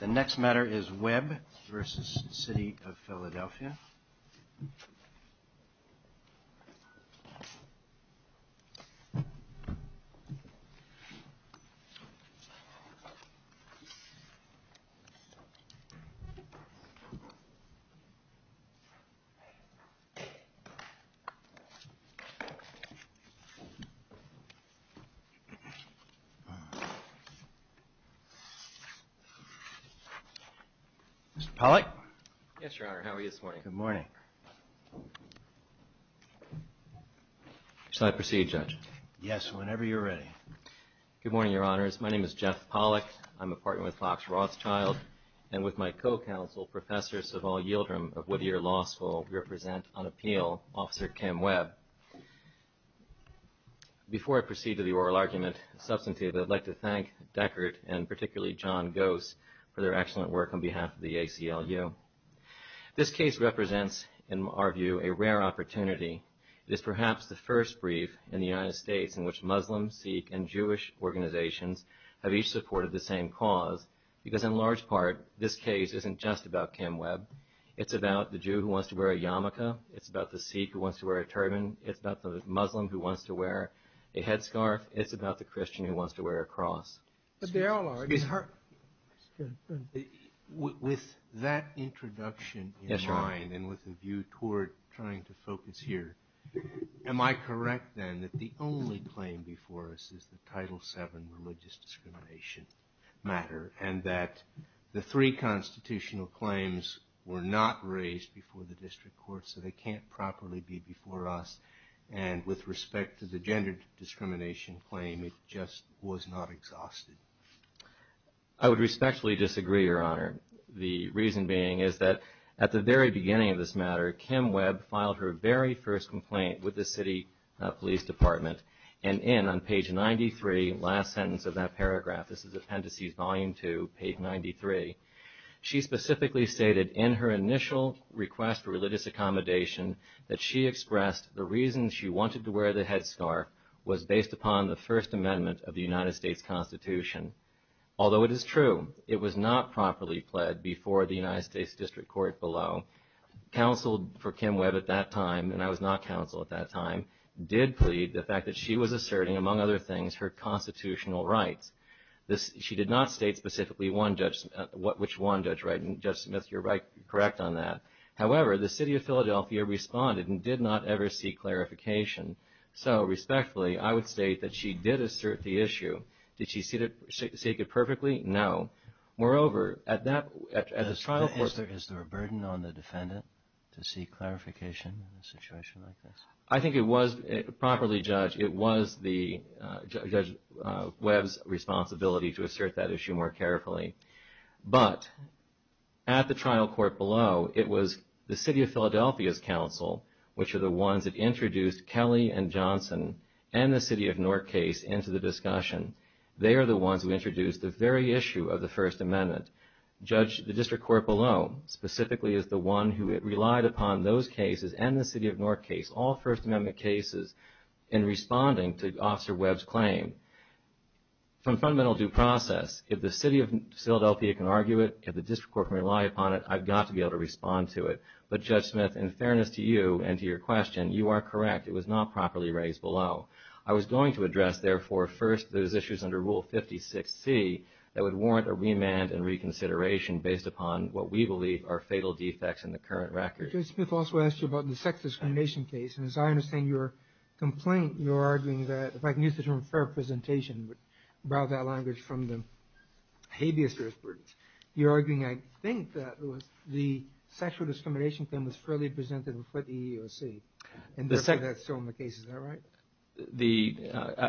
The next matter is Webb v. City of Philadelphia. Mr. Pollack? Yes, Your Honor. How are you this morning? Good morning. Shall I proceed, Judge? Yes, whenever you're ready. Good morning, Your Honors. My name is Jeff Pollack. I'm a partner with Fox Rothschild and with my co-counsel, Professor Saval Yildrim of Whittier Law School. We represent, on appeal, Officer Kim Webb. Before I proceed to the oral argument, substantive, I'd like to thank Deckert and particularly John Gose for their excellent work on behalf of the ACLU. This case represents, in our view, a rare opportunity. It is perhaps the first brief in the United States in which Muslim, Sikh, and Jewish organizations have each supported the same cause, because in large part, this case isn't just about Kim Webb. It's about the Jew who wants to wear a yarmulke. It's about the Sikh who wants to wear a turban. It's about the Muslim who wants to wear a headscarf. It's about the Christian who wants to wear a cross. With that introduction in mind and with a view toward trying to focus here, am I correct, then, that the only claim before us is the Title VII religious discrimination matter and that the three constitutional claims were not raised before the District Court, so they can't properly be before us, and with respect to the gender discrimination claim, it just was not exhausted? I would respectfully disagree, Your Honor. The reason being is that at the very beginning of this matter, Kim Webb filed her very first complaint with the city police department, and in, on page 93, the last sentence of that paragraph, this is Appendices Volume 2, page 93, she specifically stated in her initial request for religious accommodation that she expressed the reason she wanted to wear the headscarf was based upon the First Amendment of the United States Constitution. Although it is true it was not properly pled before the United States District Court below, counsel for Kim Webb at that time, and I was not counsel at that time, did plead the fact that she was asserting, among other things, her constitutional rights. She did not state specifically which one, Judge Smith, you're correct on that. However, the city of Philadelphia responded and did not ever seek clarification. So, respectfully, I would state that she did assert the issue. Did she seek it perfectly? No. Moreover, at the trial court... Is there a burden on the defendant to seek clarification in a situation like this? I think it was, properly, Judge, it was Judge Webb's responsibility to assert that issue more carefully. But, at the trial court below, it was the city of Philadelphia's counsel, which are the ones that introduced Kelly and Johnson and the city of Northcase into the discussion. They are the ones who introduced the very issue of the First Amendment. Judge, the district court below, specifically, is the one who relied upon those cases and the city of Northcase, all First Amendment cases, in responding to Officer Webb's claim. From fundamental due process, if the city of Philadelphia can argue it, if the district court can rely upon it, I've got to be able to respond to it. But, Judge Smith, in fairness to you and to your question, you are correct. It was not properly raised below. I was going to address, therefore, first those issues under Rule 56C that would warrant a remand and reconsideration based upon what we believe are fatal defects in the current record. Judge Smith also asked you about the sex discrimination case. And, as I understand your complaint, you're arguing that, if I can use the term fair presentation, would borrow that language from the habeas jurisprudence. You're arguing, I think, that the sexual discrimination claim was fairly presented before the EEOC. And, therefore, that's so in the case. Is that right?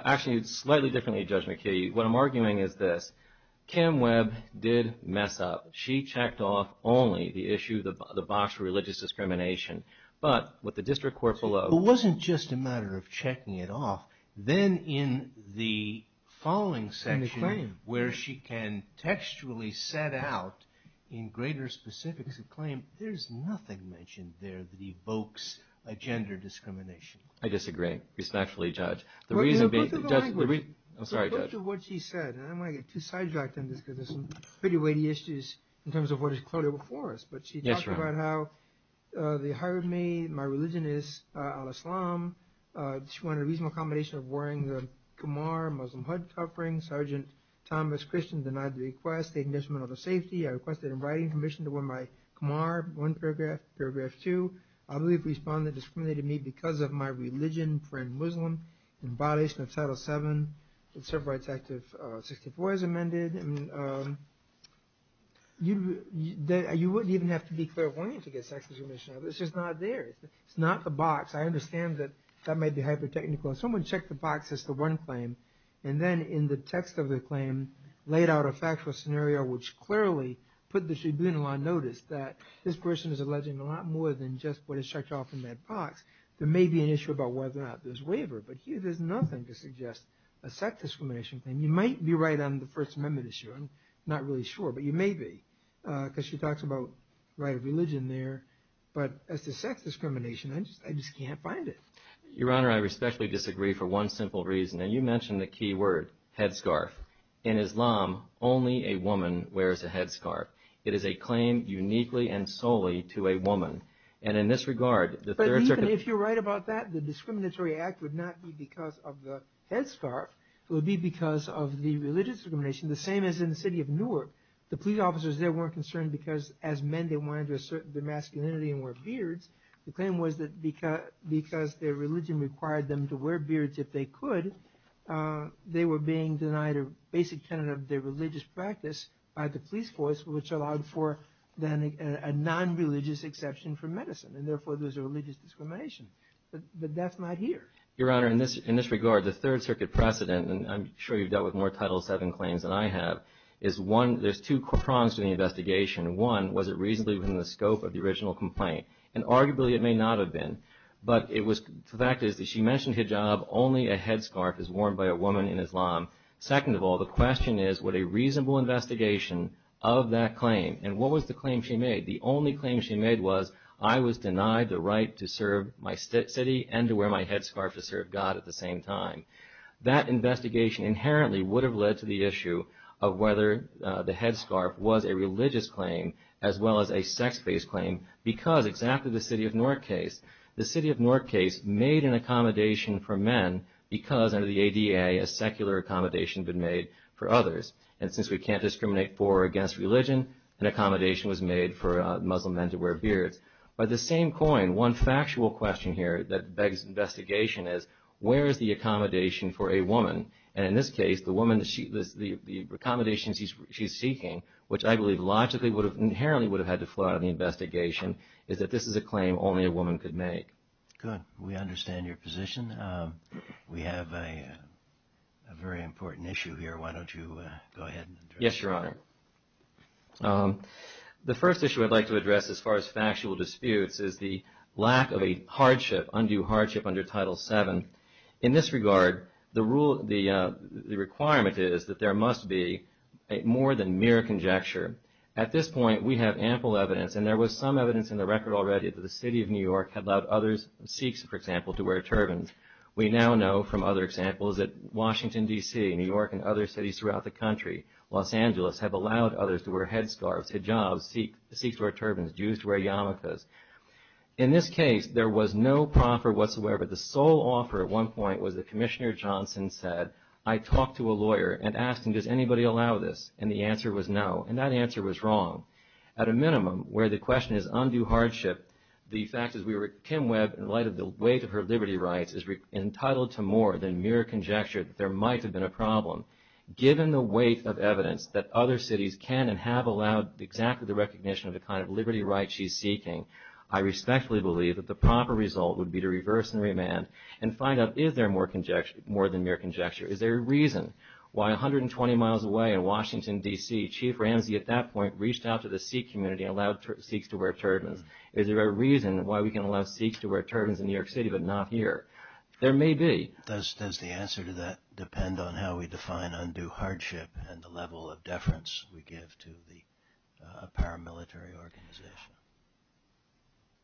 Actually, slightly differently, Judge McKee. What I'm arguing is this. Kim Webb did mess up. She checked off only the issue, the box for religious discrimination. But, with the district court below... It wasn't just a matter of checking it off. Then, in the following section, where she can textually set out in greater specifics a claim, there's nothing mentioned there that evokes a gender discrimination. I disagree, respectfully, Judge. The reason being... In response to what she said, and I don't want to get too sidetracked on this, because there's some pretty weighty issues in terms of what is clearly before us. But, she talked about how they hired me, my religion is Islam. She wanted a reasonable accommodation of wearing the Khmer Muslim hood cuff ring. Sergeant Thomas Christian denied the request. They didn't mention whether it was safety. I requested a writing permission to wear my Khmer, one paragraph, paragraph two. I believe the respondent discriminated me because of my religion, I'm a Muslim, in violation of Title VII. The Civil Rights Act of 1964 is amended. You wouldn't even have to be clairvoyant to get sex discrimination. It's just not there. It's not the box. I understand that that might be hyper-technical. Someone checked the box as the one claim, and then, in the text of the claim, laid out a factual scenario, which clearly put the tribunal on notice that this person is alleging a lot more than just what is checked off in that box. There may be an issue about whether or not there's waiver, but here there's nothing to suggest a sex discrimination claim. You might be right on the First Amendment issue. I'm not really sure, but you may be, because she talks about right of religion there. But, as to sex discrimination, I just can't find it. Your Honor, I respectfully disagree for one simple reason, and you mentioned the key word, headscarf. In Islam, only a woman wears a headscarf. It is a claim uniquely and solely to a woman. If you're right about that, the discriminatory act would not be because of the headscarf. It would be because of the religious discrimination, the same as in the city of Newark. The police officers there weren't concerned because, as men, they wanted to assert their masculinity and wear beards. The claim was that because their religion required them to wear beards if they could, they were being denied a basic tenet of their religious practice by the police force, which allowed for, then, a non-religious exception for medicine. And, therefore, there's a religious discrimination. But that's not here. Your Honor, in this regard, the Third Circuit precedent, and I'm sure you've dealt with more Title VII claims than I have, is one, there's two prongs to the investigation. One, was it reasonably within the scope of the original complaint? And, arguably, it may not have been. But it was, the fact is that she mentioned hijab. Only a headscarf is worn by a woman in Islam. Second of all, the question is, what a reasonable investigation of that claim. And what was the claim she made? The only claim she made was, I was denied the right to serve my city and to wear my headscarf to serve God at the same time. That investigation inherently would have led to the issue of whether the headscarf was a religious claim as well as a sex-based claim because, exactly the city of Newark case, the city of Newark case made an accommodation for men because under the ADA, a secular accommodation had been made for others. And since we can't discriminate for or against religion, an accommodation was made for Muslim men to wear beards. By the same coin, one factual question here that begs investigation is, where is the accommodation for a woman? And in this case, the woman, the accommodations she's seeking, which I believe logically would have, inherently would have had to flow out of the investigation, is that this is a claim only a woman could make. Good. We understand your position. We have a very important issue here. Why don't you go ahead and address it? Yes, Your Honor. The first issue I'd like to address as far as factual disputes is the lack of a hardship, undue hardship under Title VII. In this regard, the requirement is that there must be more than mere conjecture. At this point, we have ample evidence, and there was some evidence in the record already that the City of New York had allowed others, Sikhs, for example, to wear turbans. We now know from other examples that Washington, D.C., New York, and other cities throughout the country, Los Angeles, have allowed others to wear headscarves, hijabs, Sikhs wear turbans, Jews wear yarmulkes. In this case, there was no proffer whatsoever. The sole offer at one point was that Commissioner Johnson said, I talked to a lawyer and asked him, does anybody allow this? And the answer was no. And that answer was wrong. At a minimum, where the question is undue hardship, the fact is, Kim Webb, in light of the weight of her liberty rights, is entitled to more than mere conjecture that there might have been a problem. Given the weight of evidence that other cities can and have allowed exactly the recognition of the kind of liberty rights she's seeking, I respectfully believe that the proper result would be to reverse the remand and find out, is there more than mere conjecture? Is there a reason why 120 miles away in Washington, D.C., Chief Ramsey at that point reached out to the Sikh community and allowed Sikhs to wear turbans? Is there a reason why we can allow Sikhs to wear turbans in New York City but not here? There may be. Does the answer to that depend on how we define undue hardship and the level of deference we give to a paramilitary organization?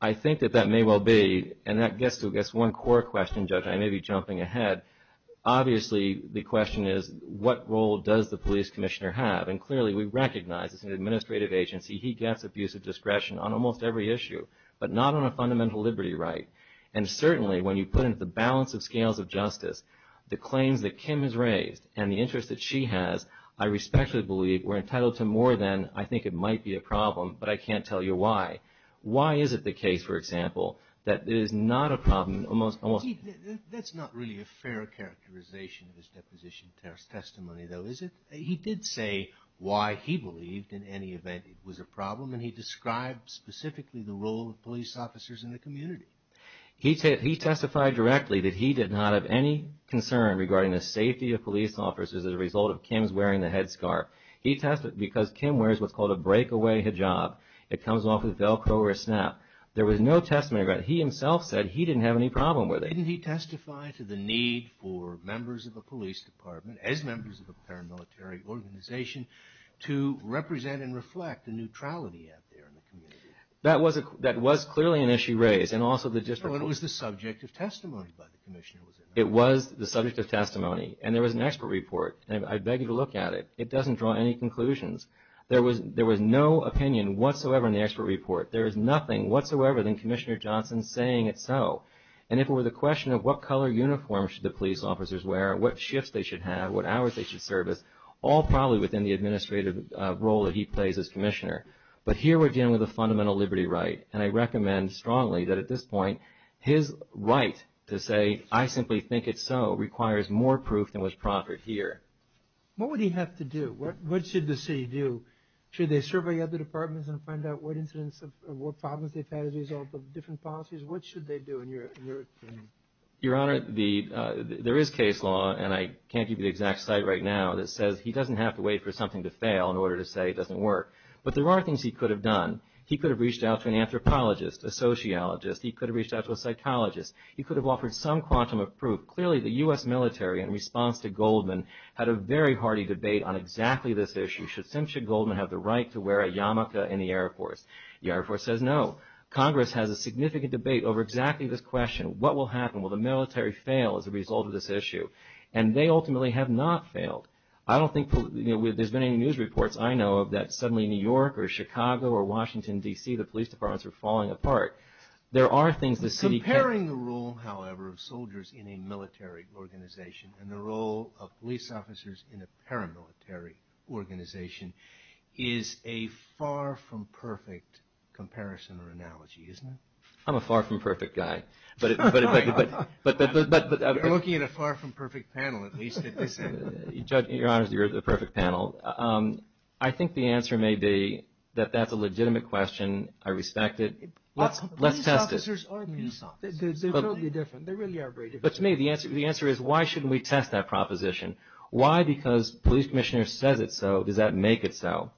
I think that that may well be. And that gets to, I guess, one core question, Judge. I may be jumping ahead. Obviously, the question is, what role does the police commissioner have? And clearly we recognize as an administrative agency he gets abusive discretion on almost every issue but not on a fundamental liberty right. And certainly when you put into the balance of scales of justice the claims that Kim has raised and the interest that she has, I respectfully believe we're entitled to more than, I think it might be a problem, but I can't tell you why. Why is it the case, for example, that it is not a problem? That's not really a fair characterization of his deposition testimony, though, is it? He did say why he believed in any event it was a problem, and he described specifically the role of police officers in the community. He testified directly that he did not have any concern regarding the safety of police officers as a result of Kim's wearing the headscarf. He testified because Kim wears what's called a breakaway hijab. It comes off with Velcro or a snap. There was no testimony about it. He himself said he didn't have any problem with it. Didn't he testify to the need for members of the police department, as members of a paramilitary organization, to represent and reflect the neutrality out there in the community? That was clearly an issue raised. It was the subject of testimony. It was the subject of testimony, and there was an expert report. I beg you to look at it. It doesn't draw any conclusions. There was no opinion whatsoever in the expert report. There is nothing whatsoever than Commissioner Johnson saying it's so. And if it were the question of what color uniform should the police officers wear, what shifts they should have, what hours they should service, all probably within the administrative role that he plays as commissioner. But here we're dealing with a fundamental liberty right, and I recommend strongly that at this point his right to say, I simply think it's so, requires more proof than was proffered here. What would he have to do? What should the city do? Should they survey other departments and find out what incidents or what problems they've had as a result of different policies? What should they do in your opinion? Your Honor, there is case law, and I can't give you the exact site right now, that says he doesn't have to wait for something to fail in order to say it doesn't work. But there are things he could have done. He could have reached out to an anthropologist, a sociologist. He could have reached out to a psychologist. He could have offered some quantum of proof. Clearly the U.S. military, in response to Goldman, had a very hearty debate on exactly this issue. Should Simpson Goldman have the right to wear a yarmulke in the Air Force? The Air Force says no. Congress has a significant debate over exactly this question. What will happen? Will the military fail as a result of this issue? And they ultimately have not failed. I don't think there's been any news reports, I know of, that suddenly New York or Chicago or Washington, D.C., the police departments are falling apart. There are things the city can do. Comparing the role, however, of soldiers in a military organization and the role of police officers in a paramilitary organization is a far from perfect comparison or analogy, isn't it? I'm a far from perfect guy. You're looking at a far from perfect panel, at least at this end. Your Honor, you're at the perfect panel. I think the answer may be that that's a legitimate question. I respect it. Let's test it. Police officers are police officers. They're totally different. They really are very different. But to me, the answer is why shouldn't we test that proposition? Why? Not because a police commissioner says it so. Does that make it so?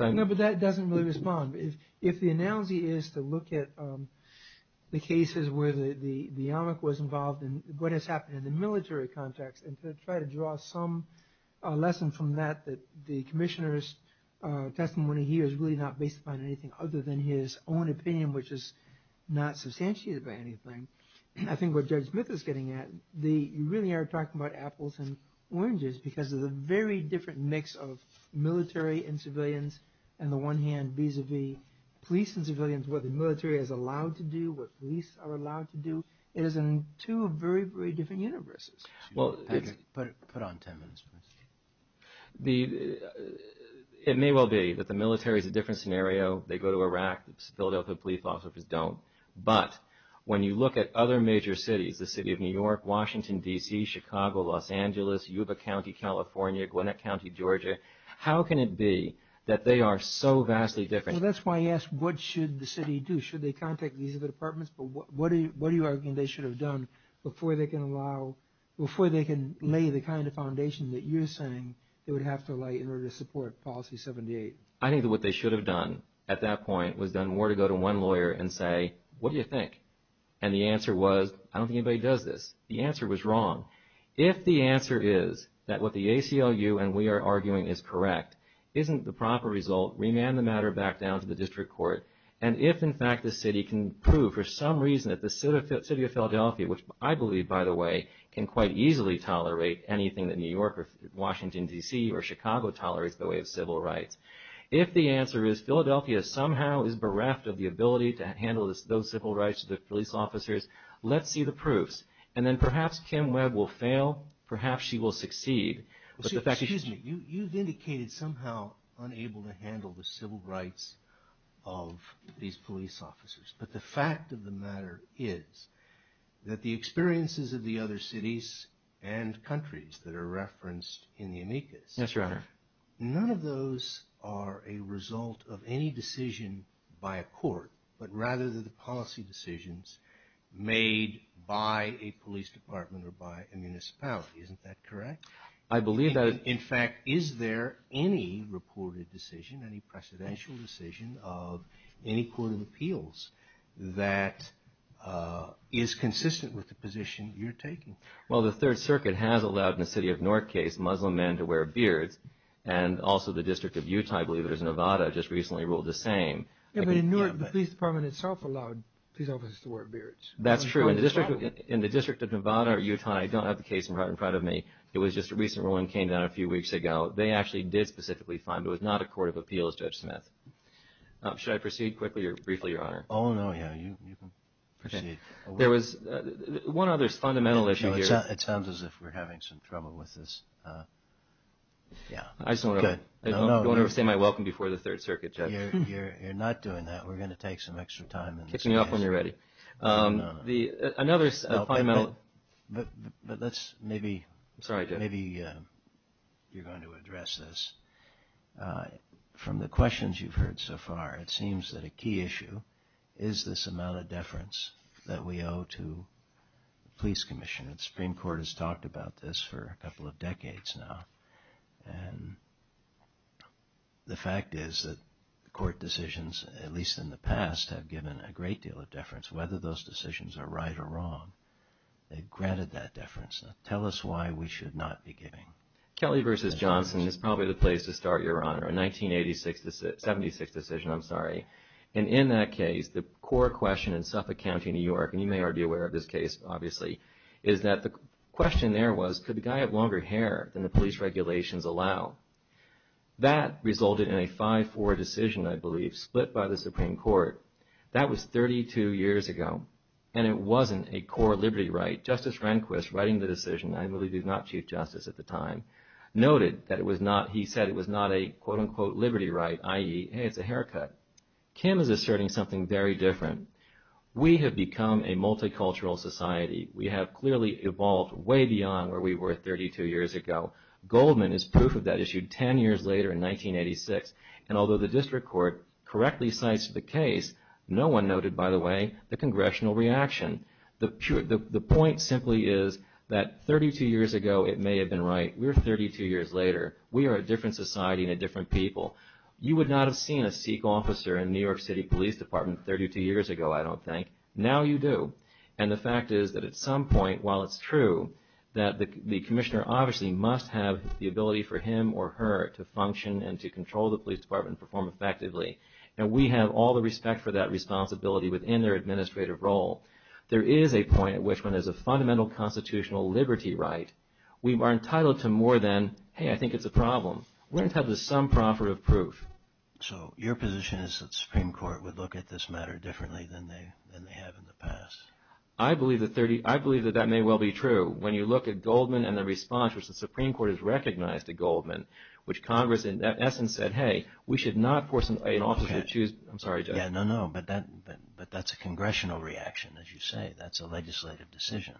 No, but that doesn't really respond. If the analogy is to look at the cases where the Yarmulke was involved and what has happened in the military context and to try to draw some lesson from that, that the commissioner's testimony here is really not based upon anything other than his own opinion, which is not substantiated by anything, I think what Judge Smith is getting at, you really are talking about apples and oranges because there's a very different mix of military and civilians and the one hand vis-a-vis police and civilians, what the military is allowed to do, what police are allowed to do. It is in two very, very different universes. Put on ten minutes, please. It may well be that the military is a different scenario. They go to Iraq. The Philadelphia police officers don't. But when you look at other major cities, the City of New York, Washington, D.C., Chicago, Los Angeles, Yuba County, California, Gwinnett County, Georgia, how can it be that they are so vastly different? Well, that's why I asked what should the city do. Should they contact these other departments? But what are you arguing they should have done before they can lay the kind of foundation that you're saying they would have to lay in order to support Policy 78? I think that what they should have done at that point was done more to go to one lawyer and say, Hey, what do you think? And the answer was, I don't think anybody does this. The answer was wrong. If the answer is that what the ACLU and we are arguing is correct, isn't the proper result, remand the matter back down to the district court. And if, in fact, the city can prove for some reason that the City of Philadelphia, which I believe, by the way, can quite easily tolerate anything that New York or Washington, D.C. or Chicago tolerates the way of civil rights. If the answer is Philadelphia somehow is bereft of the ability to handle those civil rights of the police officers, let's see the proofs. And then perhaps Kim Webb will fail. Perhaps she will succeed. Excuse me. You've indicated somehow unable to handle the civil rights of these police officers. But the fact of the matter is that the experiences of the other cities and countries that are referenced in the amicus. Yes, Your Honor. None of those are a result of any decision by a court. But rather they're the policy decisions made by a police department or by a municipality. Isn't that correct? I believe that. In fact, is there any reported decision, any precedential decision of any court of appeals that is consistent with the position you're taking? Well, the Third Circuit has allowed in the City of Newark case Muslim men to wear beards. And also the District of Utah, I believe it was Nevada, just recently ruled the same. Yeah, but in Newark, the police department itself allowed police officers to wear beards. That's true. In the District of Nevada or Utah, I don't have the case in front of me. It was just a recent ruling that came down a few weeks ago. They actually did specifically find it was not a court of appeals, Judge Smith. Should I proceed quickly or briefly, Your Honor? Oh, no, yeah, you can proceed. There was one other fundamental issue here. It sounds as if we're having some trouble with this. I just want to say my welcome before the Third Circuit, Judge. You're not doing that. We're going to take some extra time in this case. Kick me off when you're ready. No, no, no. Another fundamental… No, but let's maybe… I'm sorry, Judge. Maybe you're going to address this. From the questions you've heard so far, it seems that a key issue is this amount of deference that we owe to the police commission. The Supreme Court has talked about this for a couple of decades now. The fact is that court decisions, at least in the past, have given a great deal of deference, whether those decisions are right or wrong. They've granted that deference. Tell us why we should not be giving. Kelly v. Johnson is probably the place to start, Your Honor. A 1976 decision, I'm sorry. And in that case, the core question in Suffolk County, New York, and you may already be aware of this case, obviously, is that the question there was, could the guy have longer hair than the police regulations allow? That resulted in a 5-4 decision, I believe, split by the Supreme Court. That was 32 years ago, and it wasn't a core liberty right. Justice Rehnquist, writing the decision, I believe he was not Chief Justice at the time, noted that he said it was not a, quote-unquote, liberty right, i.e., hey, it's a haircut. Kim is asserting something very different. We have become a multicultural society. We have clearly evolved way beyond where we were 32 years ago. Goldman is proof of that, issued 10 years later in 1986. And although the district court correctly cites the case, no one noted, by the way, the congressional reaction. The point simply is that 32 years ago, it may have been right. We're 32 years later. We are a different society and a different people. You would not have seen a Sikh officer in New York City Police Department 32 years ago, I don't think. Now you do. And the fact is that at some point, while it's true, that the commissioner obviously must have the ability for him or her to function and to control the police department and perform effectively. And we have all the respect for that responsibility within their administrative role. There is a point at which, when there's a fundamental constitutional liberty right, we are entitled to more than, hey, I think it's a problem. We're entitled to some profit of proof. So your position is that the Supreme Court would look at this matter differently than they have in the past. I believe that that may well be true. When you look at Goldman and the response, which the Supreme Court has recognized at Goldman, which Congress in essence said, hey, we should not force an officer to choose. I'm sorry, Judge. No, no, but that's a congressional reaction, as you say. That's a legislative decision.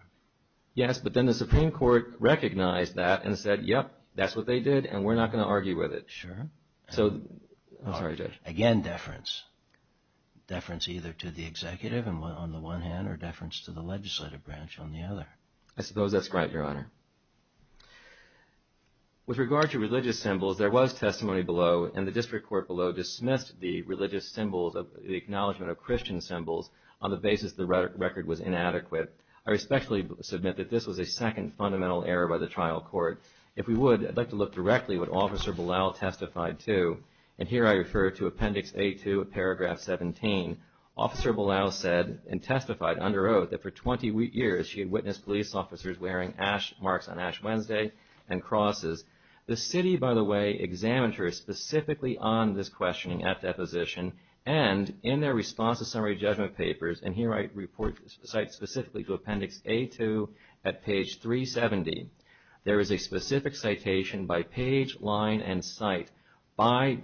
Yes, but then the Supreme Court recognized that and said, yep, that's what they did and we're not going to argue with it. Sure. I'm sorry, Judge. Again, deference. Deference either to the executive on the one hand or deference to the legislative branch on the other. I suppose that's right, Your Honor. With regard to religious symbols, there was testimony below and the district court below dismissed the religious symbols, the acknowledgement of Christian symbols, on the basis the record was inadequate. I respectfully submit that this was a second fundamental error by the trial court. If we would, I'd like to look directly at what Officer Belal testified to, and here I refer to Appendix A2, Paragraph 17. Officer Belal said and testified under oath that for 20 years she had witnessed police officers wearing marks on Ash Wednesday and crosses. The city, by the way, examined her specifically on this questioning at deposition and in their response to summary judgment papers, and here I cite specifically to Appendix A2 at page 370, there is a specific citation by page, line, and cite by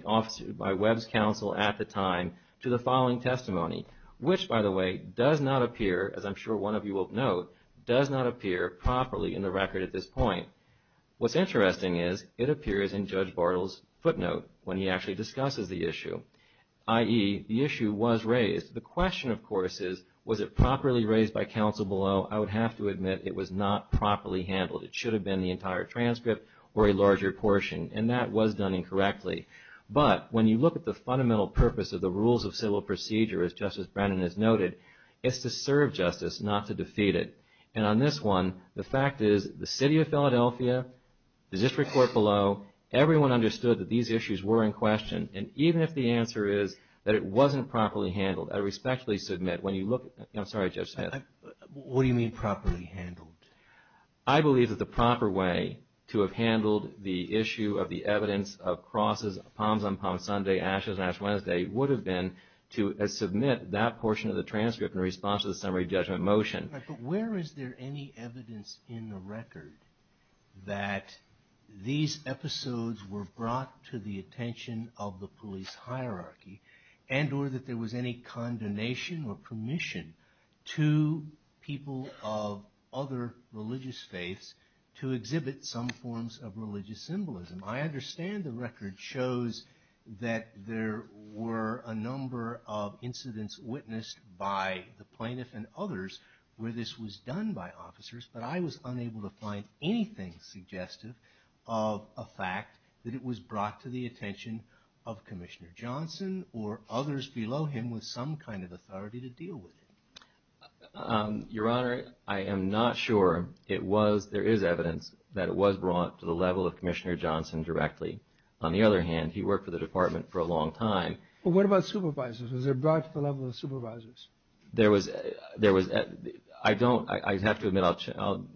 Webb's counsel at the time to the following testimony, which, by the way, does not appear, as I'm sure one of you will note, does not appear properly in the record at this point. What's interesting is it appears in Judge Bartle's footnote when he actually discusses the issue, i.e. the issue was raised. The question, of course, is was it properly raised by counsel below? I would have to admit it was not properly handled. It should have been the entire transcript or a larger portion, and that was done incorrectly. But when you look at the fundamental purpose of the rules of civil procedure, as Justice Brennan has noted, it's to serve justice, not to defeat it. And on this one, the fact is the city of Philadelphia, the district court below, everyone understood that these issues were in question, and even if the answer is that it wasn't properly handled, I respectfully submit, when you look at, I'm sorry, Judge Smith. What do you mean properly handled? I believe that the proper way to have handled the issue of the evidence of crosses, palms on palms Sunday, ashes on ash Wednesday, would have been to submit that portion of the transcript in response to the summary judgment motion. But where is there any evidence in the record that these episodes were brought to the attention of the police hierarchy and or that there was any condemnation or permission to people of other religious faiths to exhibit some forms of religious symbolism? I understand the record shows that there were a number of incidents witnessed by the plaintiff and others where this was done by officers, but I was unable to find anything suggestive of a fact that it was brought to the attention of Commissioner Johnson or others below him with some kind of authority to deal with it. Your Honor, I am not sure. There is evidence that it was brought to the level of Commissioner Johnson directly. On the other hand, he worked for the department for a long time. What about supervisors? Was it brought to the level of supervisors? I have to admit, on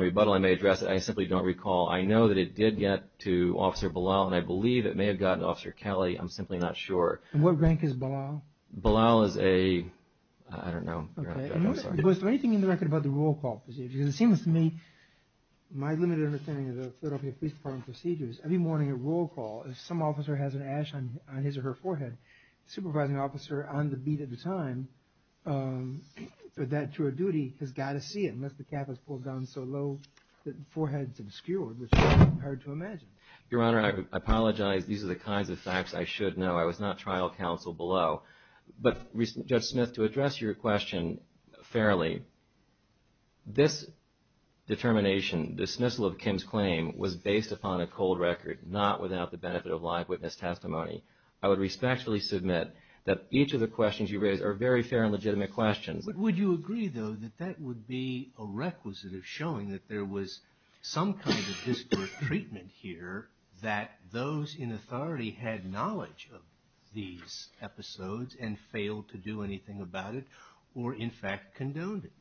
rebuttal I may address it, I simply don't recall. I know that it did get to Officer Belal, and I believe it may have gotten to Officer Kelly. I'm simply not sure. And what rank is Belal? Belal is a, I don't know. Was there anything in the record about the roll call procedure? Because it seems to me, my limited understanding of the Philadelphia Police Department procedures, every morning at roll call if some officer has an ash on his or her forehead, the supervising officer on the beat at the time with that to her duty has got to see it Your Honor, I apologize. These are the kinds of facts I should know. I was not trial counsel below. But Judge Smith, to address your question fairly, this determination, dismissal of Kim's claim was based upon a cold record, not without the benefit of live witness testimony. I would respectfully submit that each of the questions you raise are very fair and legitimate questions. Would you agree, though, that that would be a requisite of showing that there was some kind of disparate treatment here, that those in authority had knowledge of these episodes and failed to do anything about it, or in fact condoned it?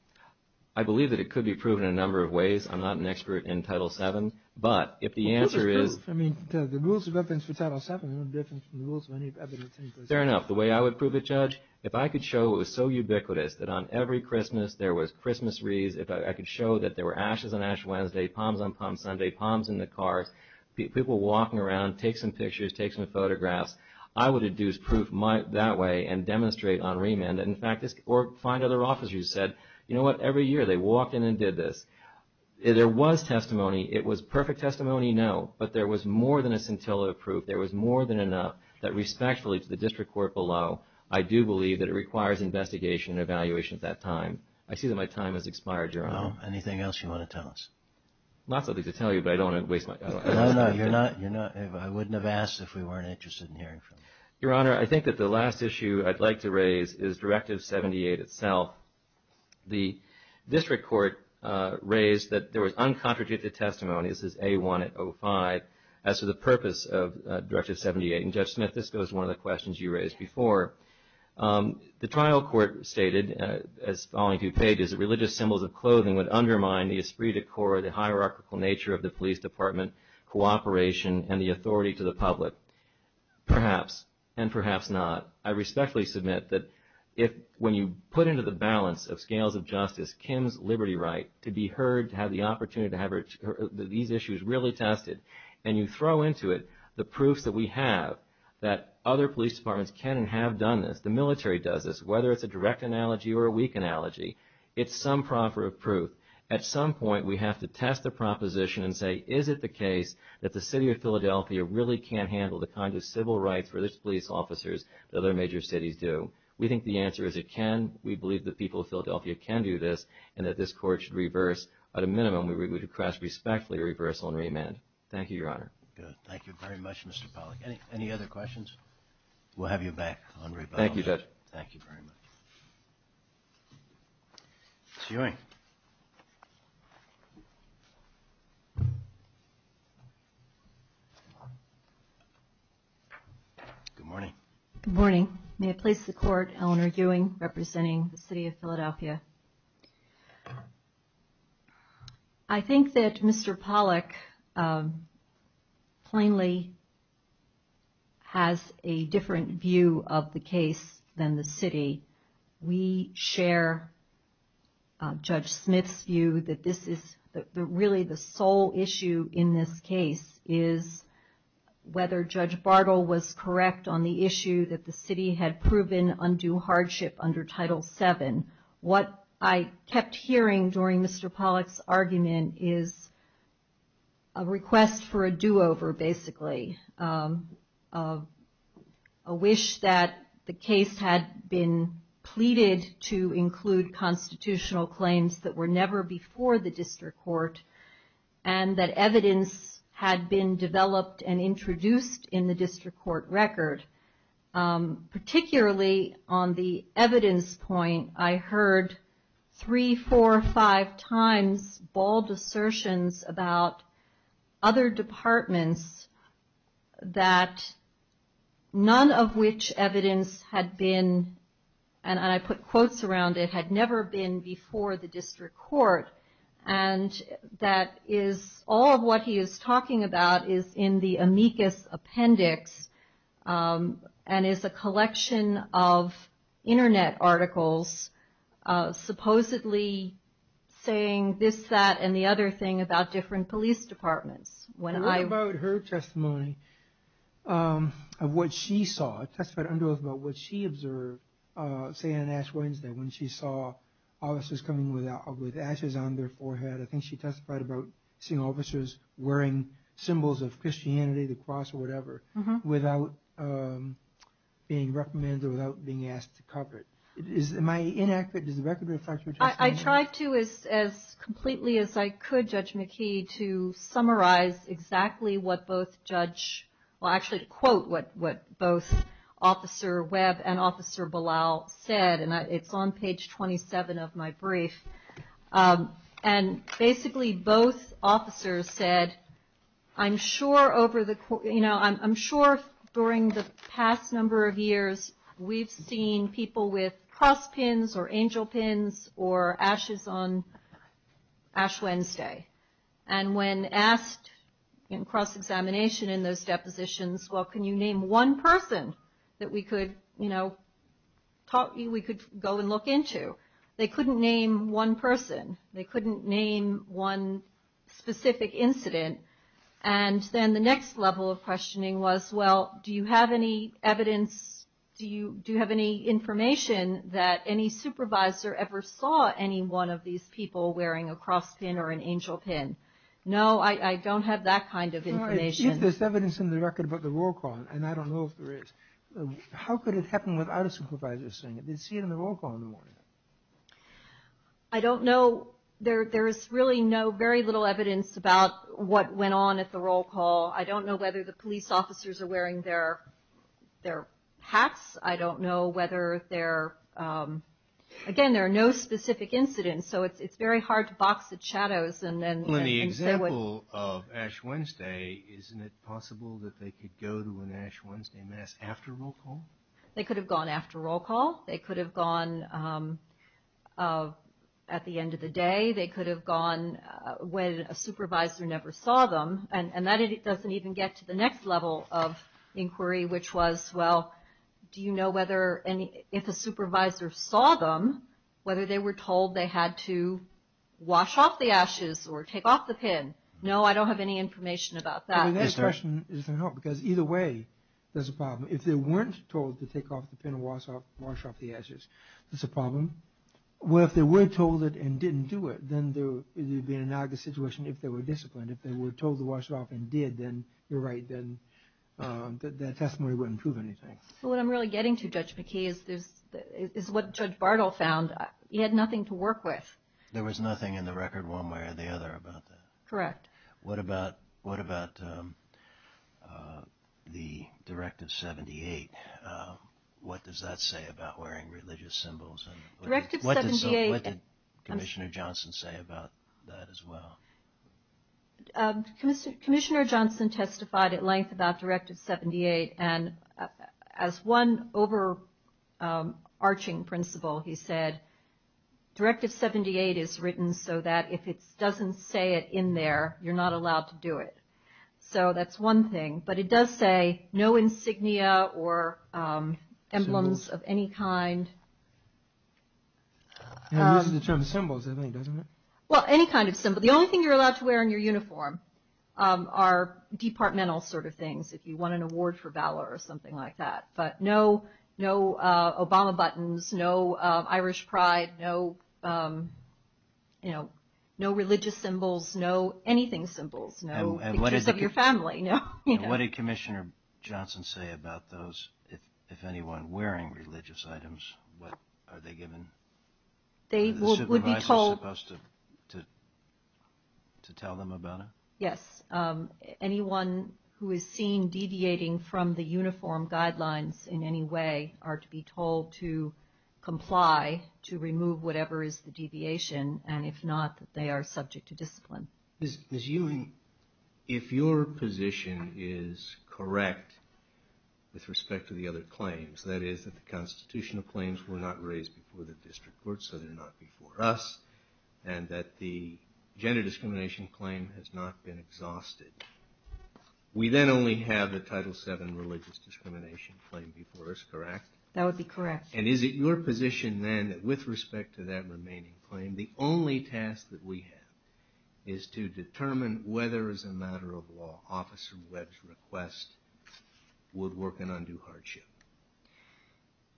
I believe that it could be proven in a number of ways. I'm not an expert in Title VII, but if the answer is The rules of evidence for Title VII are no different from the rules of any evidence Fair enough. The way I would prove it, Judge, if I could show it was so ubiquitous that on every Christmas there was Christmas wreaths, if I could show that there were ashes on Ash Wednesday, palms on Palm Sunday, palms in the cars, people walking around, take some pictures, take some photographs, I would deduce proof that way and demonstrate on remand. Or find other officers who said, you know what, every year they walked in and did this. There was testimony. It was perfect testimony, no. But there was more than a scintilla of proof. There was more than enough that respectfully to the district court below, I do believe that it requires investigation and evaluation at that time. I see that my time has expired, Your Honor. Anything else you want to tell us? Not something to tell you, but I don't want to waste my time. No, no. I wouldn't have asked if we weren't interested in hearing from you. Your Honor, I think that the last issue I'd like to raise is Directive 78 itself. The district court raised that there was uncontradicted testimony. This is A1 at 05. As to the purpose of Directive 78, and Judge Smith, this goes to one of the questions you raised before. The trial court stated, as the following two pages, that religious symbols of clothing would undermine the esprit de corps, the hierarchical nature of the police department, cooperation, and the authority to the public. Perhaps and perhaps not, I respectfully submit that when you put into the balance of scales of justice Kim's liberty right to be heard, to have the opportunity to have these issues really tested, and you throw into it the proofs that we have that other police departments can and have done this, the military does this, whether it's a direct analogy or a weak analogy, it's some proffer of proof. At some point, we have to test the proposition and say, is it the case that the City of Philadelphia really can't handle the kind of civil rights for its police officers that other major cities do? We think the answer is it can. We believe the people of Philadelphia can do this, and that this Court should reverse. At a minimum, we request respectfully a reversal and remand. Thank you, Your Honor. Good. Thank you very much, Mr. Pollack. Any other questions? We'll have you back on rebuttal. Thank you, Judge. Ms. Ewing. Good morning. Good morning. May it please the Court, Eleanor Ewing representing the City of Philadelphia. I think that Mr. Pollack plainly has a different view of the case than the City. We share Judge Smith's view that really the sole issue in this case is whether Judge Bartle was correct on the issue that the City had proven undue hardship under Title VII. What I kept hearing during Mr. Pollack's argument is a request for a do-over, basically, a wish that the case had been pleaded to include constitutional claims that were never before the district court and that evidence had been developed and introduced in the district court record. Particularly on the evidence point, I heard three, four, five times bald assertions about other departments that none of which evidence had been, and I put quotes around it, had never been before the district court. All of what he is talking about is in the amicus appendix and is a collection of internet articles supposedly saying this, that, and the other thing about different police departments. What about her testimony of what she saw? She testified under oath about what she observed, say on Ash Wednesday, when she saw officers coming with ashes on their forehead. I think she testified about seeing officers wearing symbols of Christianity, the cross or whatever, without being recommended or without being asked to cover it. Am I inaccurate? Does the record reflect your testimony? I tried to, as completely as I could, Judge McKee, to summarize exactly what both judge, well actually to quote what both Officer Webb and Officer Belal said, and it's on page 27 of my brief. And basically both officers said, I'm sure over the, you know, I'm sure during the past number of years, we've seen people with cross pins or angel pins or ashes on Ash Wednesday. And when asked in cross-examination in those depositions, well, can you name one person that we could, you know, we could go and look into, they couldn't name one person. They couldn't name one specific incident. And then the next level of questioning was, well, do you have any evidence, do you have any information that any supervisor ever saw any one of these people wearing a cross pin or an angel pin? No, I don't have that kind of information. There's evidence in the record about the roll call, and I don't know if there is. How could it happen without a supervisor seeing it? I don't know. There is really no, very little evidence about what went on at the roll call. I don't know whether the police officers are wearing their hats. I don't know whether they're, again, there are no specific incidents, so it's very hard to box the shadows. Well, in the example of Ash Wednesday, isn't it possible that they could go to an Ash Wednesday Mass after roll call? They could have gone after roll call. They could have gone at the end of the day. They could have gone when a supervisor never saw them. And that doesn't even get to the next level of inquiry, which was, well, do you know whether any, if a supervisor saw them, whether they were told they had to wash off the ashes or take off the pin. No, I don't have any information about that. The next question isn't helpful, because either way, there's a problem. If they weren't told to take off the pin and wash off the ashes, that's a problem. Well, if they were told it and didn't do it, then there would be an analogous situation if they were disciplined. If they were told to wash it off and did, then you're right, then that testimony wouldn't prove anything. What I'm really getting to, Judge McKee, is what Judge Bartle found. He had nothing to work with. There was nothing in the record one way or the other about that. Correct. What about the Directive 78? What does that say about wearing religious symbols? What did Commissioner Johnson say about that as well? Commissioner Johnson testified at length about Directive 78, and as one overarching principle, he said, Directive 78 is written so that if it doesn't say it in there, you're not allowed to do it. So that's one thing. But it does say no insignia or emblems of any kind. It uses the term symbols, doesn't it? Well, any kind of symbol. The only thing you're allowed to wear in your uniform are departmental sort of things, if you won an award for valor or something like that. But no Obama buttons, no Irish pride, no religious symbols, no anything symbols, no pictures of your family. What did Commissioner Johnson say about those, if anyone wearing religious items, what are they given? Are the supervisors supposed to tell them about it? Yes. Anyone who is seen deviating from the uniform guidelines in any way are to be told to comply, to remove whatever is the deviation, and if not, they are subject to discipline. Ms. Ewing, if your position is correct with respect to the other claims, that is that the constitutional claims were not raised before the district court, so they're not before us, and that the gender discrimination claim has not been exhausted, we then only have the Title VII religious discrimination claim before us, correct? That would be correct. And is it your position, then, that with respect to that remaining claim, the only task that we have is to determine whether, as a matter of law, Officer Webb's request would work in undue hardship?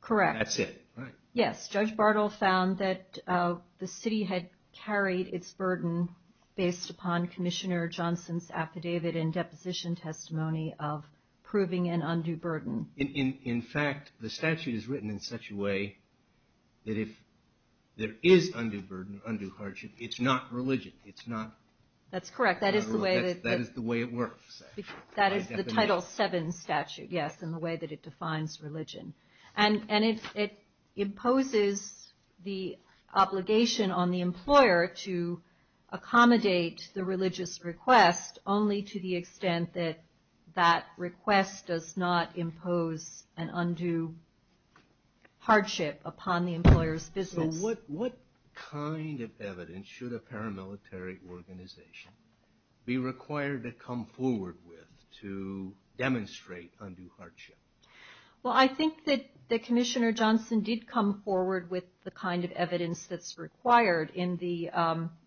Correct. That's it, right. Yes. Judge Bartle found that the city had carried its burden based upon Commissioner Johnson's affidavit and deposition testimony of proving an undue burden. In fact, the statute is written in such a way that if there is undue burden, undue hardship, it's not religion. That's correct. That is the way it works. That is the Title VII statute, yes, in the way that it defines religion. And it imposes the obligation on the employer to accommodate the religious request, only to the extent that that request does not impose an undue hardship upon the employer's business. So what kind of evidence should a paramilitary organization be required to come forward with to demonstrate undue hardship? Well, I think that Commissioner Johnson did come forward with the kind of evidence that's required. In the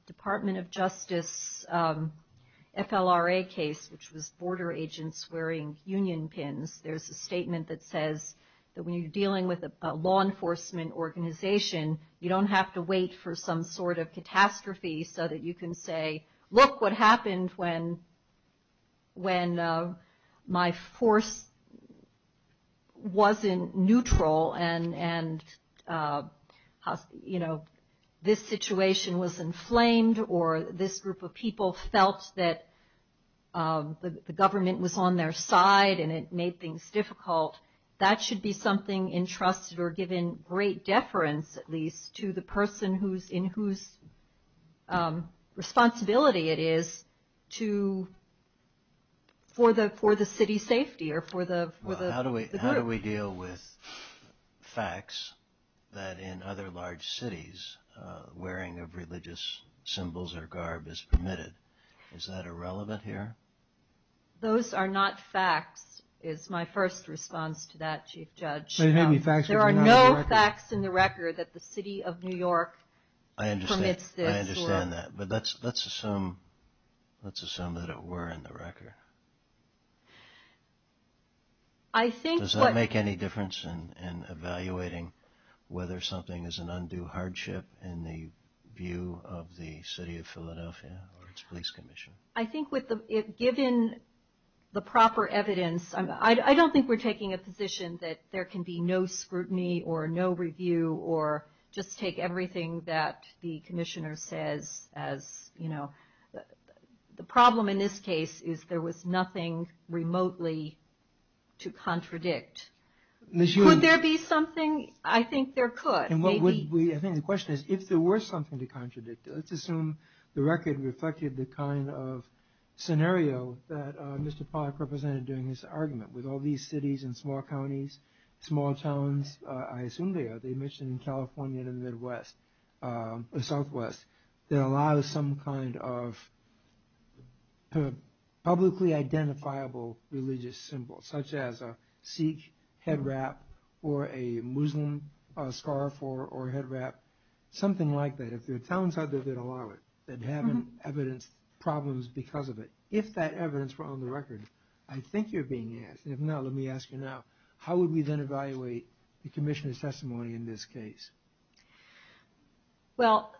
Department of Justice FLRA case, which was border agents wearing union pins, there's a statement that says that when you're dealing with a law enforcement organization, you don't have to wait for some sort of catastrophe so that you can say, look what happened when my force wasn't neutral and, you know, this situation was inflamed or this group of people felt that the government was on their side and it made things difficult. That should be something entrusted or given great deference, at least, to the person in whose responsibility it is for the city's safety or for the group. How do we deal with facts that in other large cities wearing of religious symbols or garb is permitted? Is that irrelevant here? Those are not facts, is my first response to that, Chief Judge. There are no facts in the record that the city of New York permits this. I understand that, but let's assume that it were in the record. Does that make any difference in evaluating whether something is an undue hardship in the view of the city of Philadelphia or its police commission? I think given the proper evidence, I don't think we're taking a position that there can be no scrutiny or no review or just take everything that the commissioner says as, you know. The problem in this case is there was nothing remotely to contradict. Could there be something? I think there could. I think the question is if there were something to contradict, let's assume the record reflected the kind of scenario that Mr. Pollack represented during his argument. With all these cities and small counties, small towns, I assume they are the mission in California and the Midwest, the Southwest, that allow some kind of publicly identifiable religious symbol, such as a Sikh head wrap or a Muslim scarf or head wrap, something like that. If there are towns out there that allow it, that haven't evidenced problems because of it, if that evidence were on the record, I think you're being asked. If not, let me ask you now, how would we then evaluate the commissioner's testimony in this case? Well,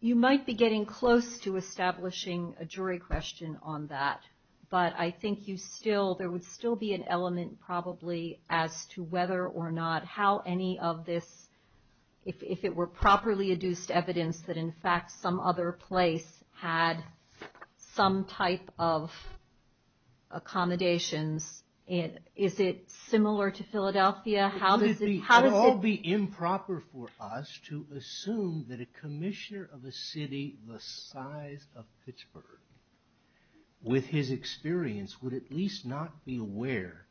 you might be getting close to establishing a jury question on that, but I think there would still be an element probably as to whether or not how any of this, if it were properly adduced evidence that in fact some other place had some type of accommodations. Is it similar to Philadelphia? It would all be improper for us to assume that a commissioner of a city the size of Pittsburgh, with his experience, would at least not be aware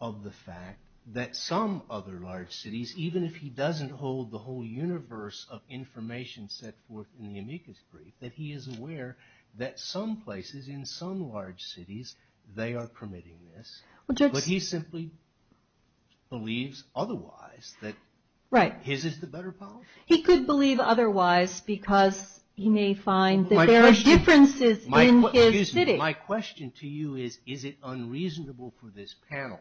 of the fact that some other large cities, even if he doesn't hold the whole universe of information set forth in the amicus brief, that he is aware that some places in some large cities, they are permitting this. But he simply believes otherwise, that his is the better policy? He could believe otherwise because he may find that there are differences in his city. My question to you is, is it unreasonable for this panel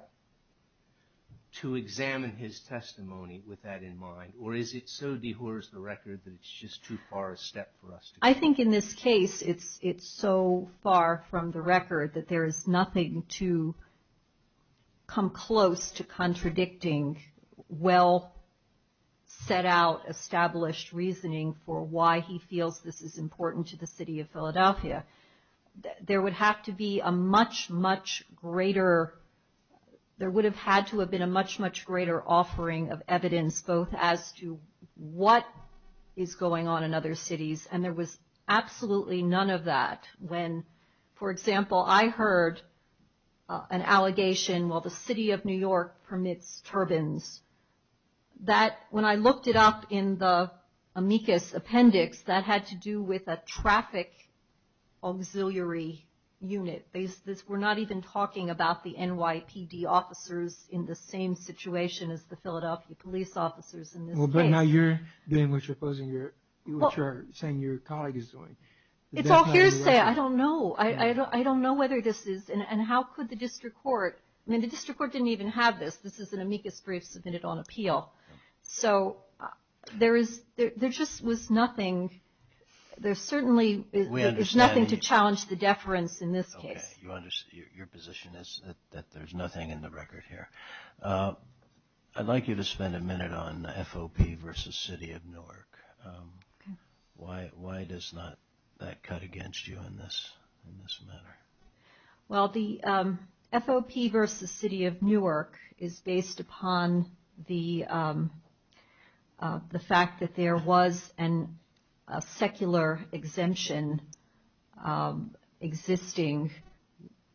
to examine his testimony with that in mind, or is it so dehors the record that it's just too far a step for us to go? I think in this case it's so far from the record that there is nothing to come close to contradicting well set out established reasoning for why he feels this is important to the city of Philadelphia. There would have to be a much, much greater, there would have had to have been a much, much greater offering of evidence both as to what is going on in other cities, and there was absolutely none of that when, for example, I heard an allegation while the city of New York permits turbines, that when I looked it up in the amicus appendix, that had to do with a traffic auxiliary unit. We're not even talking about the NYPD officers in the same situation as the Philadelphia police officers. But now you're doing what you're saying your colleague is doing. It's all hearsay. I don't know. I don't know whether this is, and how could the district court, I mean the district court didn't even have this. This is an amicus brief submitted on appeal. So there just was nothing. There certainly is nothing to challenge the deference in this case. Okay. Your position is that there's nothing in the record here. I'd like you to spend a minute on FOP versus city of Newark. Why does that cut against you in this manner? Well, the FOP versus city of Newark is based upon the fact that there was a secular exemption existing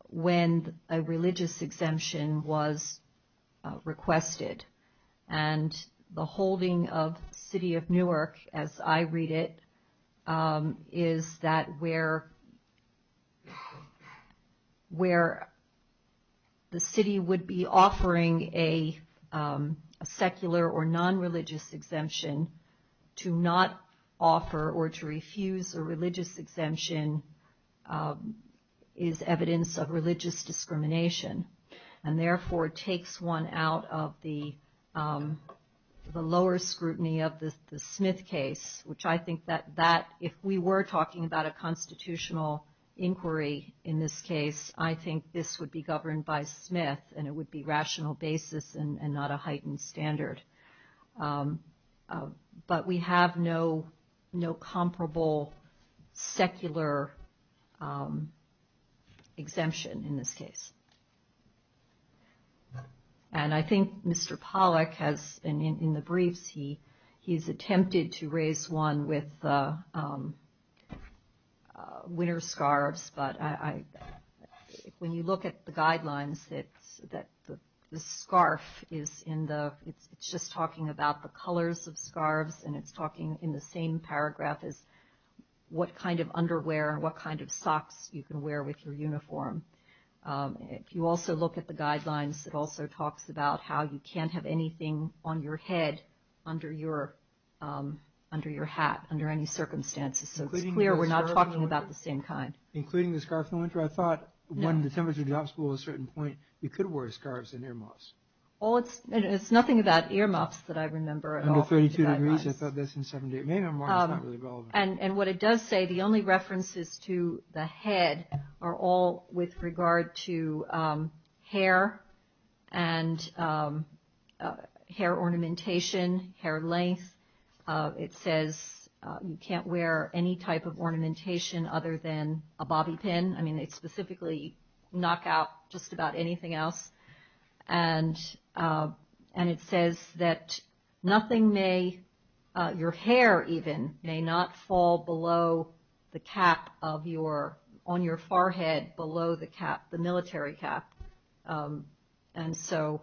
when a religious exemption was requested. And the holding of city of Newark, as I read it, is that where the city would be offering a secular or non-religious exemption to not offer or to refuse a religious exemption is evidence of religious discrimination. And therefore, it takes one out of the lower scrutiny of the Smith case, which I think that that, if we were talking about a constitutional inquiry in this case, I think this would be governed by Smith and it would be rational basis and not a heightened standard. But we have no comparable secular exemption in this case. And I think Mr. Pollack has, in the briefs, he's attempted to raise one with winter scarves, but when you look at the guidelines, the scarf is in the, it's just talking about the colors of scarves and it's talking in the same paragraph as what kind of underwear and what kind of socks you can wear with your uniform. If you also look at the guidelines, it also talks about how you can't have anything on your head under your hat, under any circumstances, so it's clear we're not talking about the same kind. It's nothing about earmuffs that I remember at all. And what it does say, the only references to the head are all with regard to hair and hair ornamentation, hair length. It says you can't wear any type of ornamentation other than a bobby pin. I mean, they specifically knock out just about anything else. And it says that nothing may, your hair even, may not fall below the cap on your forehead below the cap, the military cap. And so,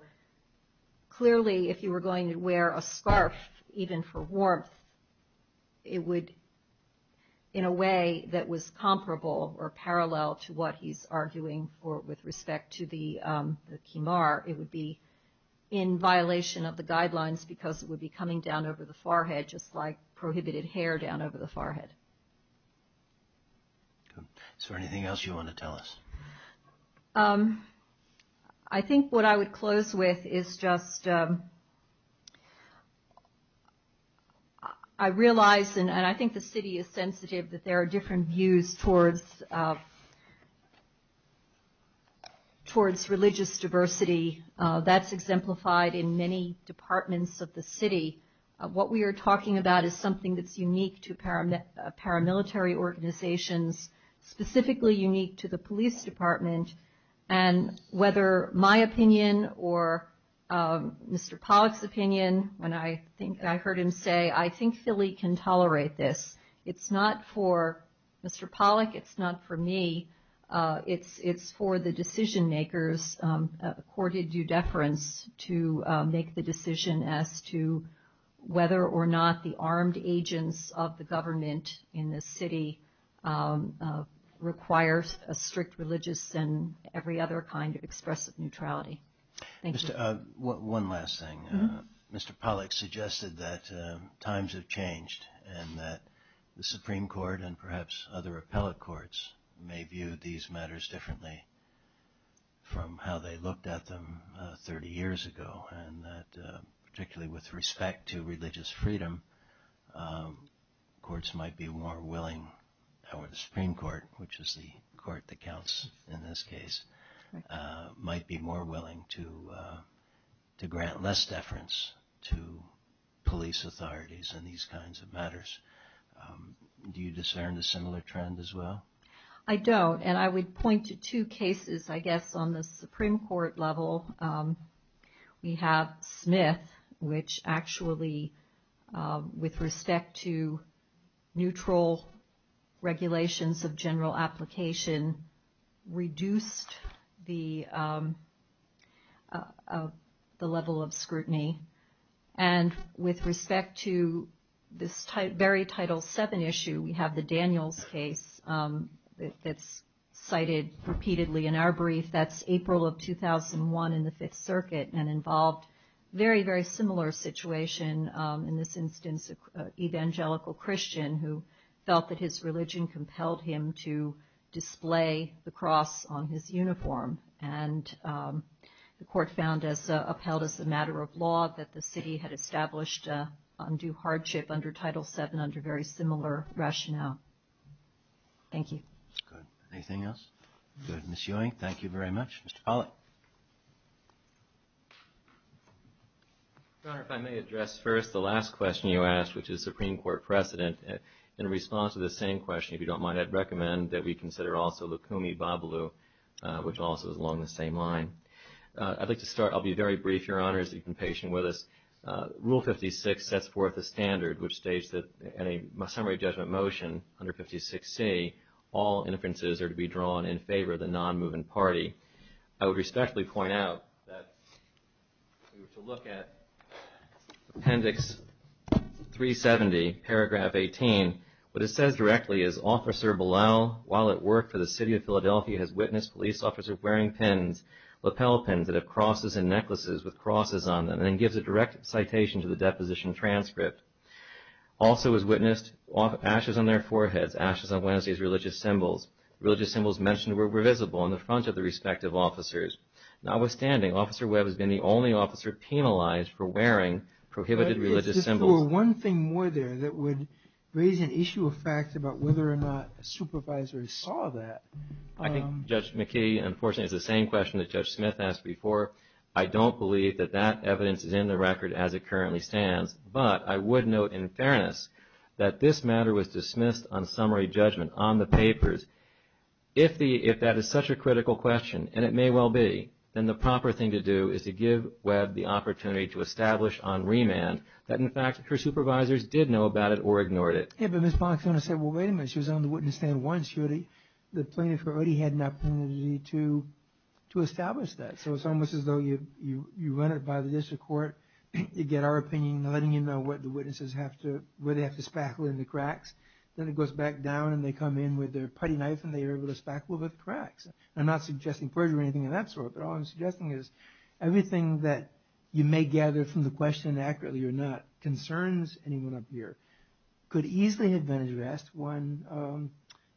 clearly if you were going to wear a scarf, even for warmth, it would, in a way that was comparable or parallel to what he's arguing, or with respect to the Kimar, it would be in violation of the guidelines because it would be coming down over the forehead, just like prohibited hair down over the forehead. So, anything else you want to tell us? I think what I would close with is just, I realize, and I think the city is sensitive that there are different views towards religious diversity. That's exemplified in many departments of the city. What we are talking about is something that's unique to paramilitary organizations, specifically unique to the police department. And whether my opinion or Mr. Pollack's opinion, when I heard him say, I think Philly can tolerate this. It's not for Mr. Pollack, it's not for me. It's for the decision makers accorded due deference to make the decision as to whether or not the armed agents of the government in this city requires a strict religious and every other kind of expressive neutrality. One last thing. Mr. Pollack suggested that times have changed and that the Supreme Court and perhaps other appellate courts may view these matters differently from how they looked at them 30 years ago. And that particularly with respect to religious freedom, courts might be more willing, however the Supreme Court, which is the court that counts in this case, might be more willing to grant less deference to police authorities in these kinds of matters. Do you discern a similar trend as well? I don't, and I would point to two cases I guess on the Supreme Court level. We have Smith, which actually with respect to neutral regulations of general application, reduced the level of scrutiny. And with respect to this very Title VII issue, we have the Daniels case that's cited repeatedly in our brief. That's April of 2001 in the Fifth Circuit and involved very, very similar situation. In this instance, an evangelical Christian who felt that his religion compelled him to display the cross on his uniform. And the court found as upheld as a matter of law that the city had established undue hardship under Title VII under very similar rationale. Thank you. Your Honor, if I may address first the last question you asked, which is Supreme Court precedent. In response to the same question, if you don't mind, I'd recommend that we consider also Lukumi Babalu, which also is along the same line. I'd like to start, I'll be very brief, Your Honor, as you've been patient with us. Rule 56 sets forth a standard which states that in a summary judgment motion under 56C, all inferences are to be drawn in favor of the non-moving party. I would respectfully point out that if you were to look at Appendix 370, Paragraph 18, what it says directly is, Officer Balal, while at work for the City of Philadelphia, has witnessed police officers wearing lapel pins that have crosses and necklaces with crosses on them, and then gives a direct citation to the deposition transcript. Also has witnessed ashes on their foreheads, ashes on Wednesday's religious symbols. Religious symbols mentioned were visible on the front of the respective officers. Notwithstanding, Officer Webb has been the only officer penalized for wearing prohibited religious symbols. If there were one thing more there that would raise an issue of fact about whether or not a supervisor saw that. I think, Judge McKee, unfortunately, it's the same question that Judge Smith asked before. I don't believe that that evidence is in the record as it currently stands, but I would note in fairness that this matter was dismissed on summary judgment, on the papers. If that is such a critical question, and it may well be, then the proper thing to do is to give Webb the opportunity to establish on remand that in fact her supervisors did know about it or ignored it. Yeah, but Ms. Bonacona said, well, wait a minute, she was on the witness stand once. The plaintiff already had an opportunity to establish that. So it's almost as though you run it by the district court, you get our opinion, letting you know what the witnesses have to, where they have to spackle in the cracks. Then it goes back down and they come in with their putty knife and they are able to spackle the cracks. I'm not suggesting perjury or anything of that sort, but all I'm suggesting is everything that you may gather from the question, accurately or not, concerns anyone up here. Could easily have been addressed when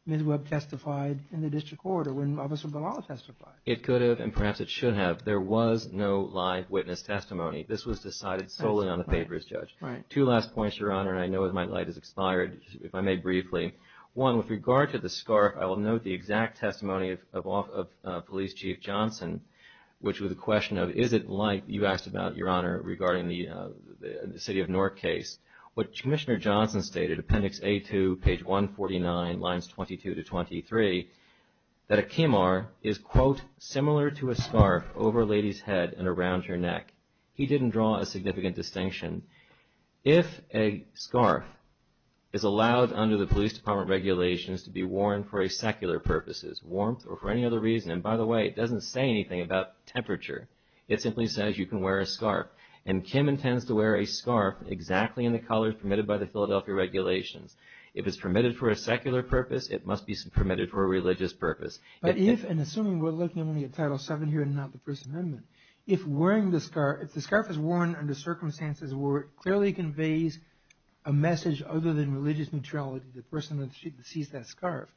Ms. Webb testified in the district court or when Officer Bonalla testified. It could have, and perhaps it should have. There was no live witness testimony. This was decided solely on the papers, Judge. Two last points, Your Honor, and I know my light has expired, if I may briefly. One, with regard to the scarf, I will note the exact testimony of Police Chief Johnson, which was a question of, is it like you asked about, Your Honor, regarding the City of Newark case. What Commissioner Johnson stated, appendix A2, page 149, lines 22 to 23, that a Kimar is, quote, similar to a scarf over a lady's head and around her neck. He didn't draw a significant distinction. If a scarf is allowed under the police department regulations to be worn for secular purposes, warmth or for any other reason, and by the way, it doesn't say anything about temperature. It simply says you can wear a scarf. And Kim intends to wear a scarf exactly in the color permitted by the Philadelphia regulations. If it's permitted for a secular purpose, it must be permitted for a religious purpose. But if, and assuming we're looking only at Title VII here and not the First Amendment, if wearing the scarf, if the scarf is worn under circumstances where it clearly conveys a message other than religious neutrality to the person that sees that scarf,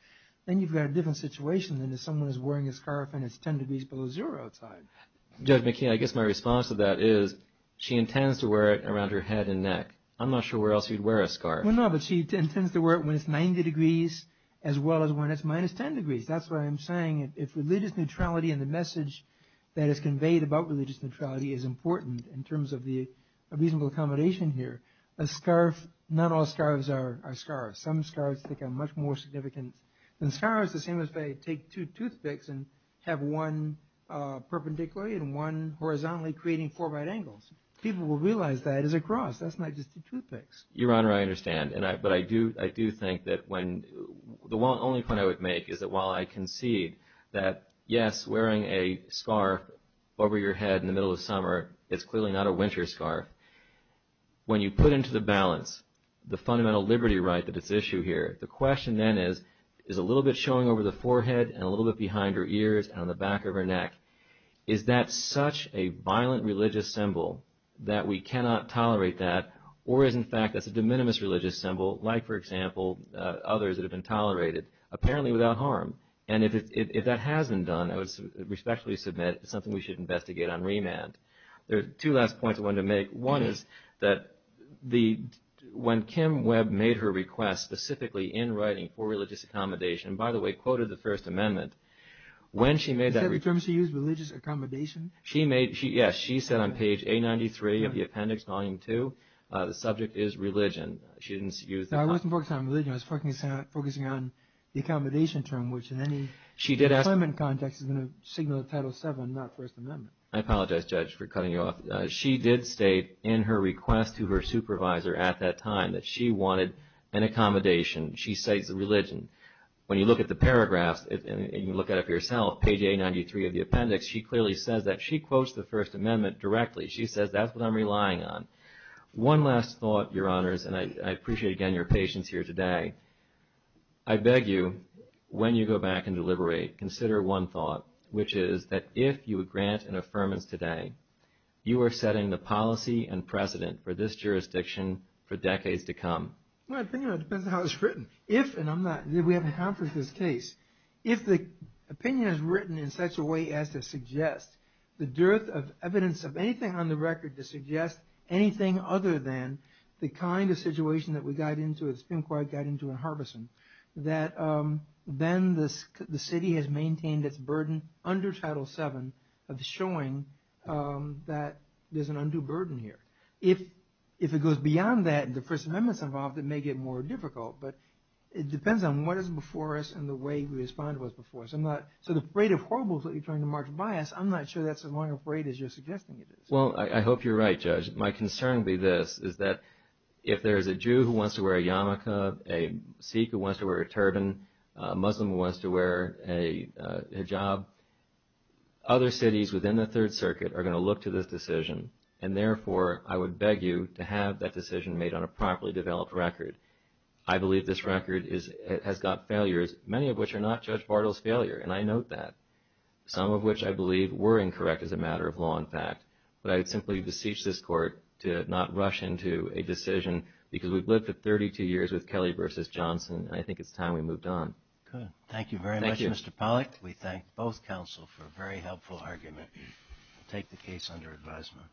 then you've got a different situation than if someone is wearing a scarf and it's 10 degrees below zero outside. Judge McKee, I guess my response to that is she intends to wear it around her head and neck. I'm not sure where else you'd wear a scarf. Well, no, but she intends to wear it when it's 90 degrees as well as when it's minus 10 degrees. That's why I'm saying if religious neutrality and the message that is conveyed about religious neutrality is important in terms of the reasonable accommodation here, a scarf, not all scarves are scarves. Some scarves take on much more significance than scarves. A scarf is the same as if I take two toothpicks and have one perpendicularly and one horizontally creating four right angles. People will realize that is a cross. That's not just a toothpick. Your Honor, I understand, but I do think that the only point I would make is that while I concede that, yes, wearing a scarf over your head in the middle of summer is clearly not a winter scarf, when you put into the balance the fundamental liberty right that is at issue here, the question then is, is a little bit showing over the forehead and a little bit behind her ears and on the back of her neck, is that such a violent religious symbol that we cannot tolerate that, or is, in fact, that's a de minimis religious symbol, like, for example, others that have been tolerated, apparently without harm? And if that hasn't done, I would respectfully submit it's something we should investigate on remand. There are two last points I wanted to make. One is that when Kim Webb made her request, specifically in writing for religious accommodation, and, by the way, quoted the First Amendment, when she made that request... You said the term she used, religious accommodation? Yes, she said on page 893 of the appendix, volume 2, the subject is religion. She didn't use... No, I wasn't focusing on religion. I was focusing on the accommodation term, which in any employment context is going to signal Title VII, not First Amendment. I apologize, Judge, for cutting you off. She did state in her request to her supervisor at that time that she wanted an accommodation. She cites religion. When you look at the paragraphs and you look at it for yourself, page 893 of the appendix, she clearly says that. She quotes the First Amendment directly. She says, that's what I'm relying on. One last thought, Your Honors, and I appreciate, again, your patience here today. I beg you, when you go back and deliberate, consider one thought, which is that if you grant an affirmance today, you are setting the policy and precedent for this jurisdiction for decades to come. Well, it depends on how it's written. If, and I'm not... We haven't accomplished this case. If the opinion is written in such a way as to suggest the dearth of evidence of anything on the record to suggest anything other than the kind of situation that we got into, the Supreme Court got into in Harbeson, that then the city has maintained its burden under Title VII of showing that there's an undue burden here. If it goes beyond that and the First Amendment's involved, it may get more difficult. But it depends on what is before us and the way we respond to what's before us. I'm not so afraid of horribles that you're trying to march by us. I'm not sure that's as long a parade as you're suggesting it is. Well, I hope you're right, Judge. My concern would be this, is that if there's a Jew who wants to wear a yarmulke, a Sikh who wants to wear a turban, a Muslim who wants to wear a hijab, other cities within the Third Circuit are going to look to this decision. And therefore, I would beg you to have that decision made on a properly developed record. I believe this record has got failures, many of which are not Judge Bartle's failure, and I note that, some of which I believe were incorrect as a matter of law and fact. But I would simply beseech this Court to not rush into a decision, because we've lived for 32 years with Kelly v. Johnson, and I think it's time we moved on. Good. Thank you very much, Mr. Pollack. We thank both counsel for a very helpful argument. We'll take the case under advisement.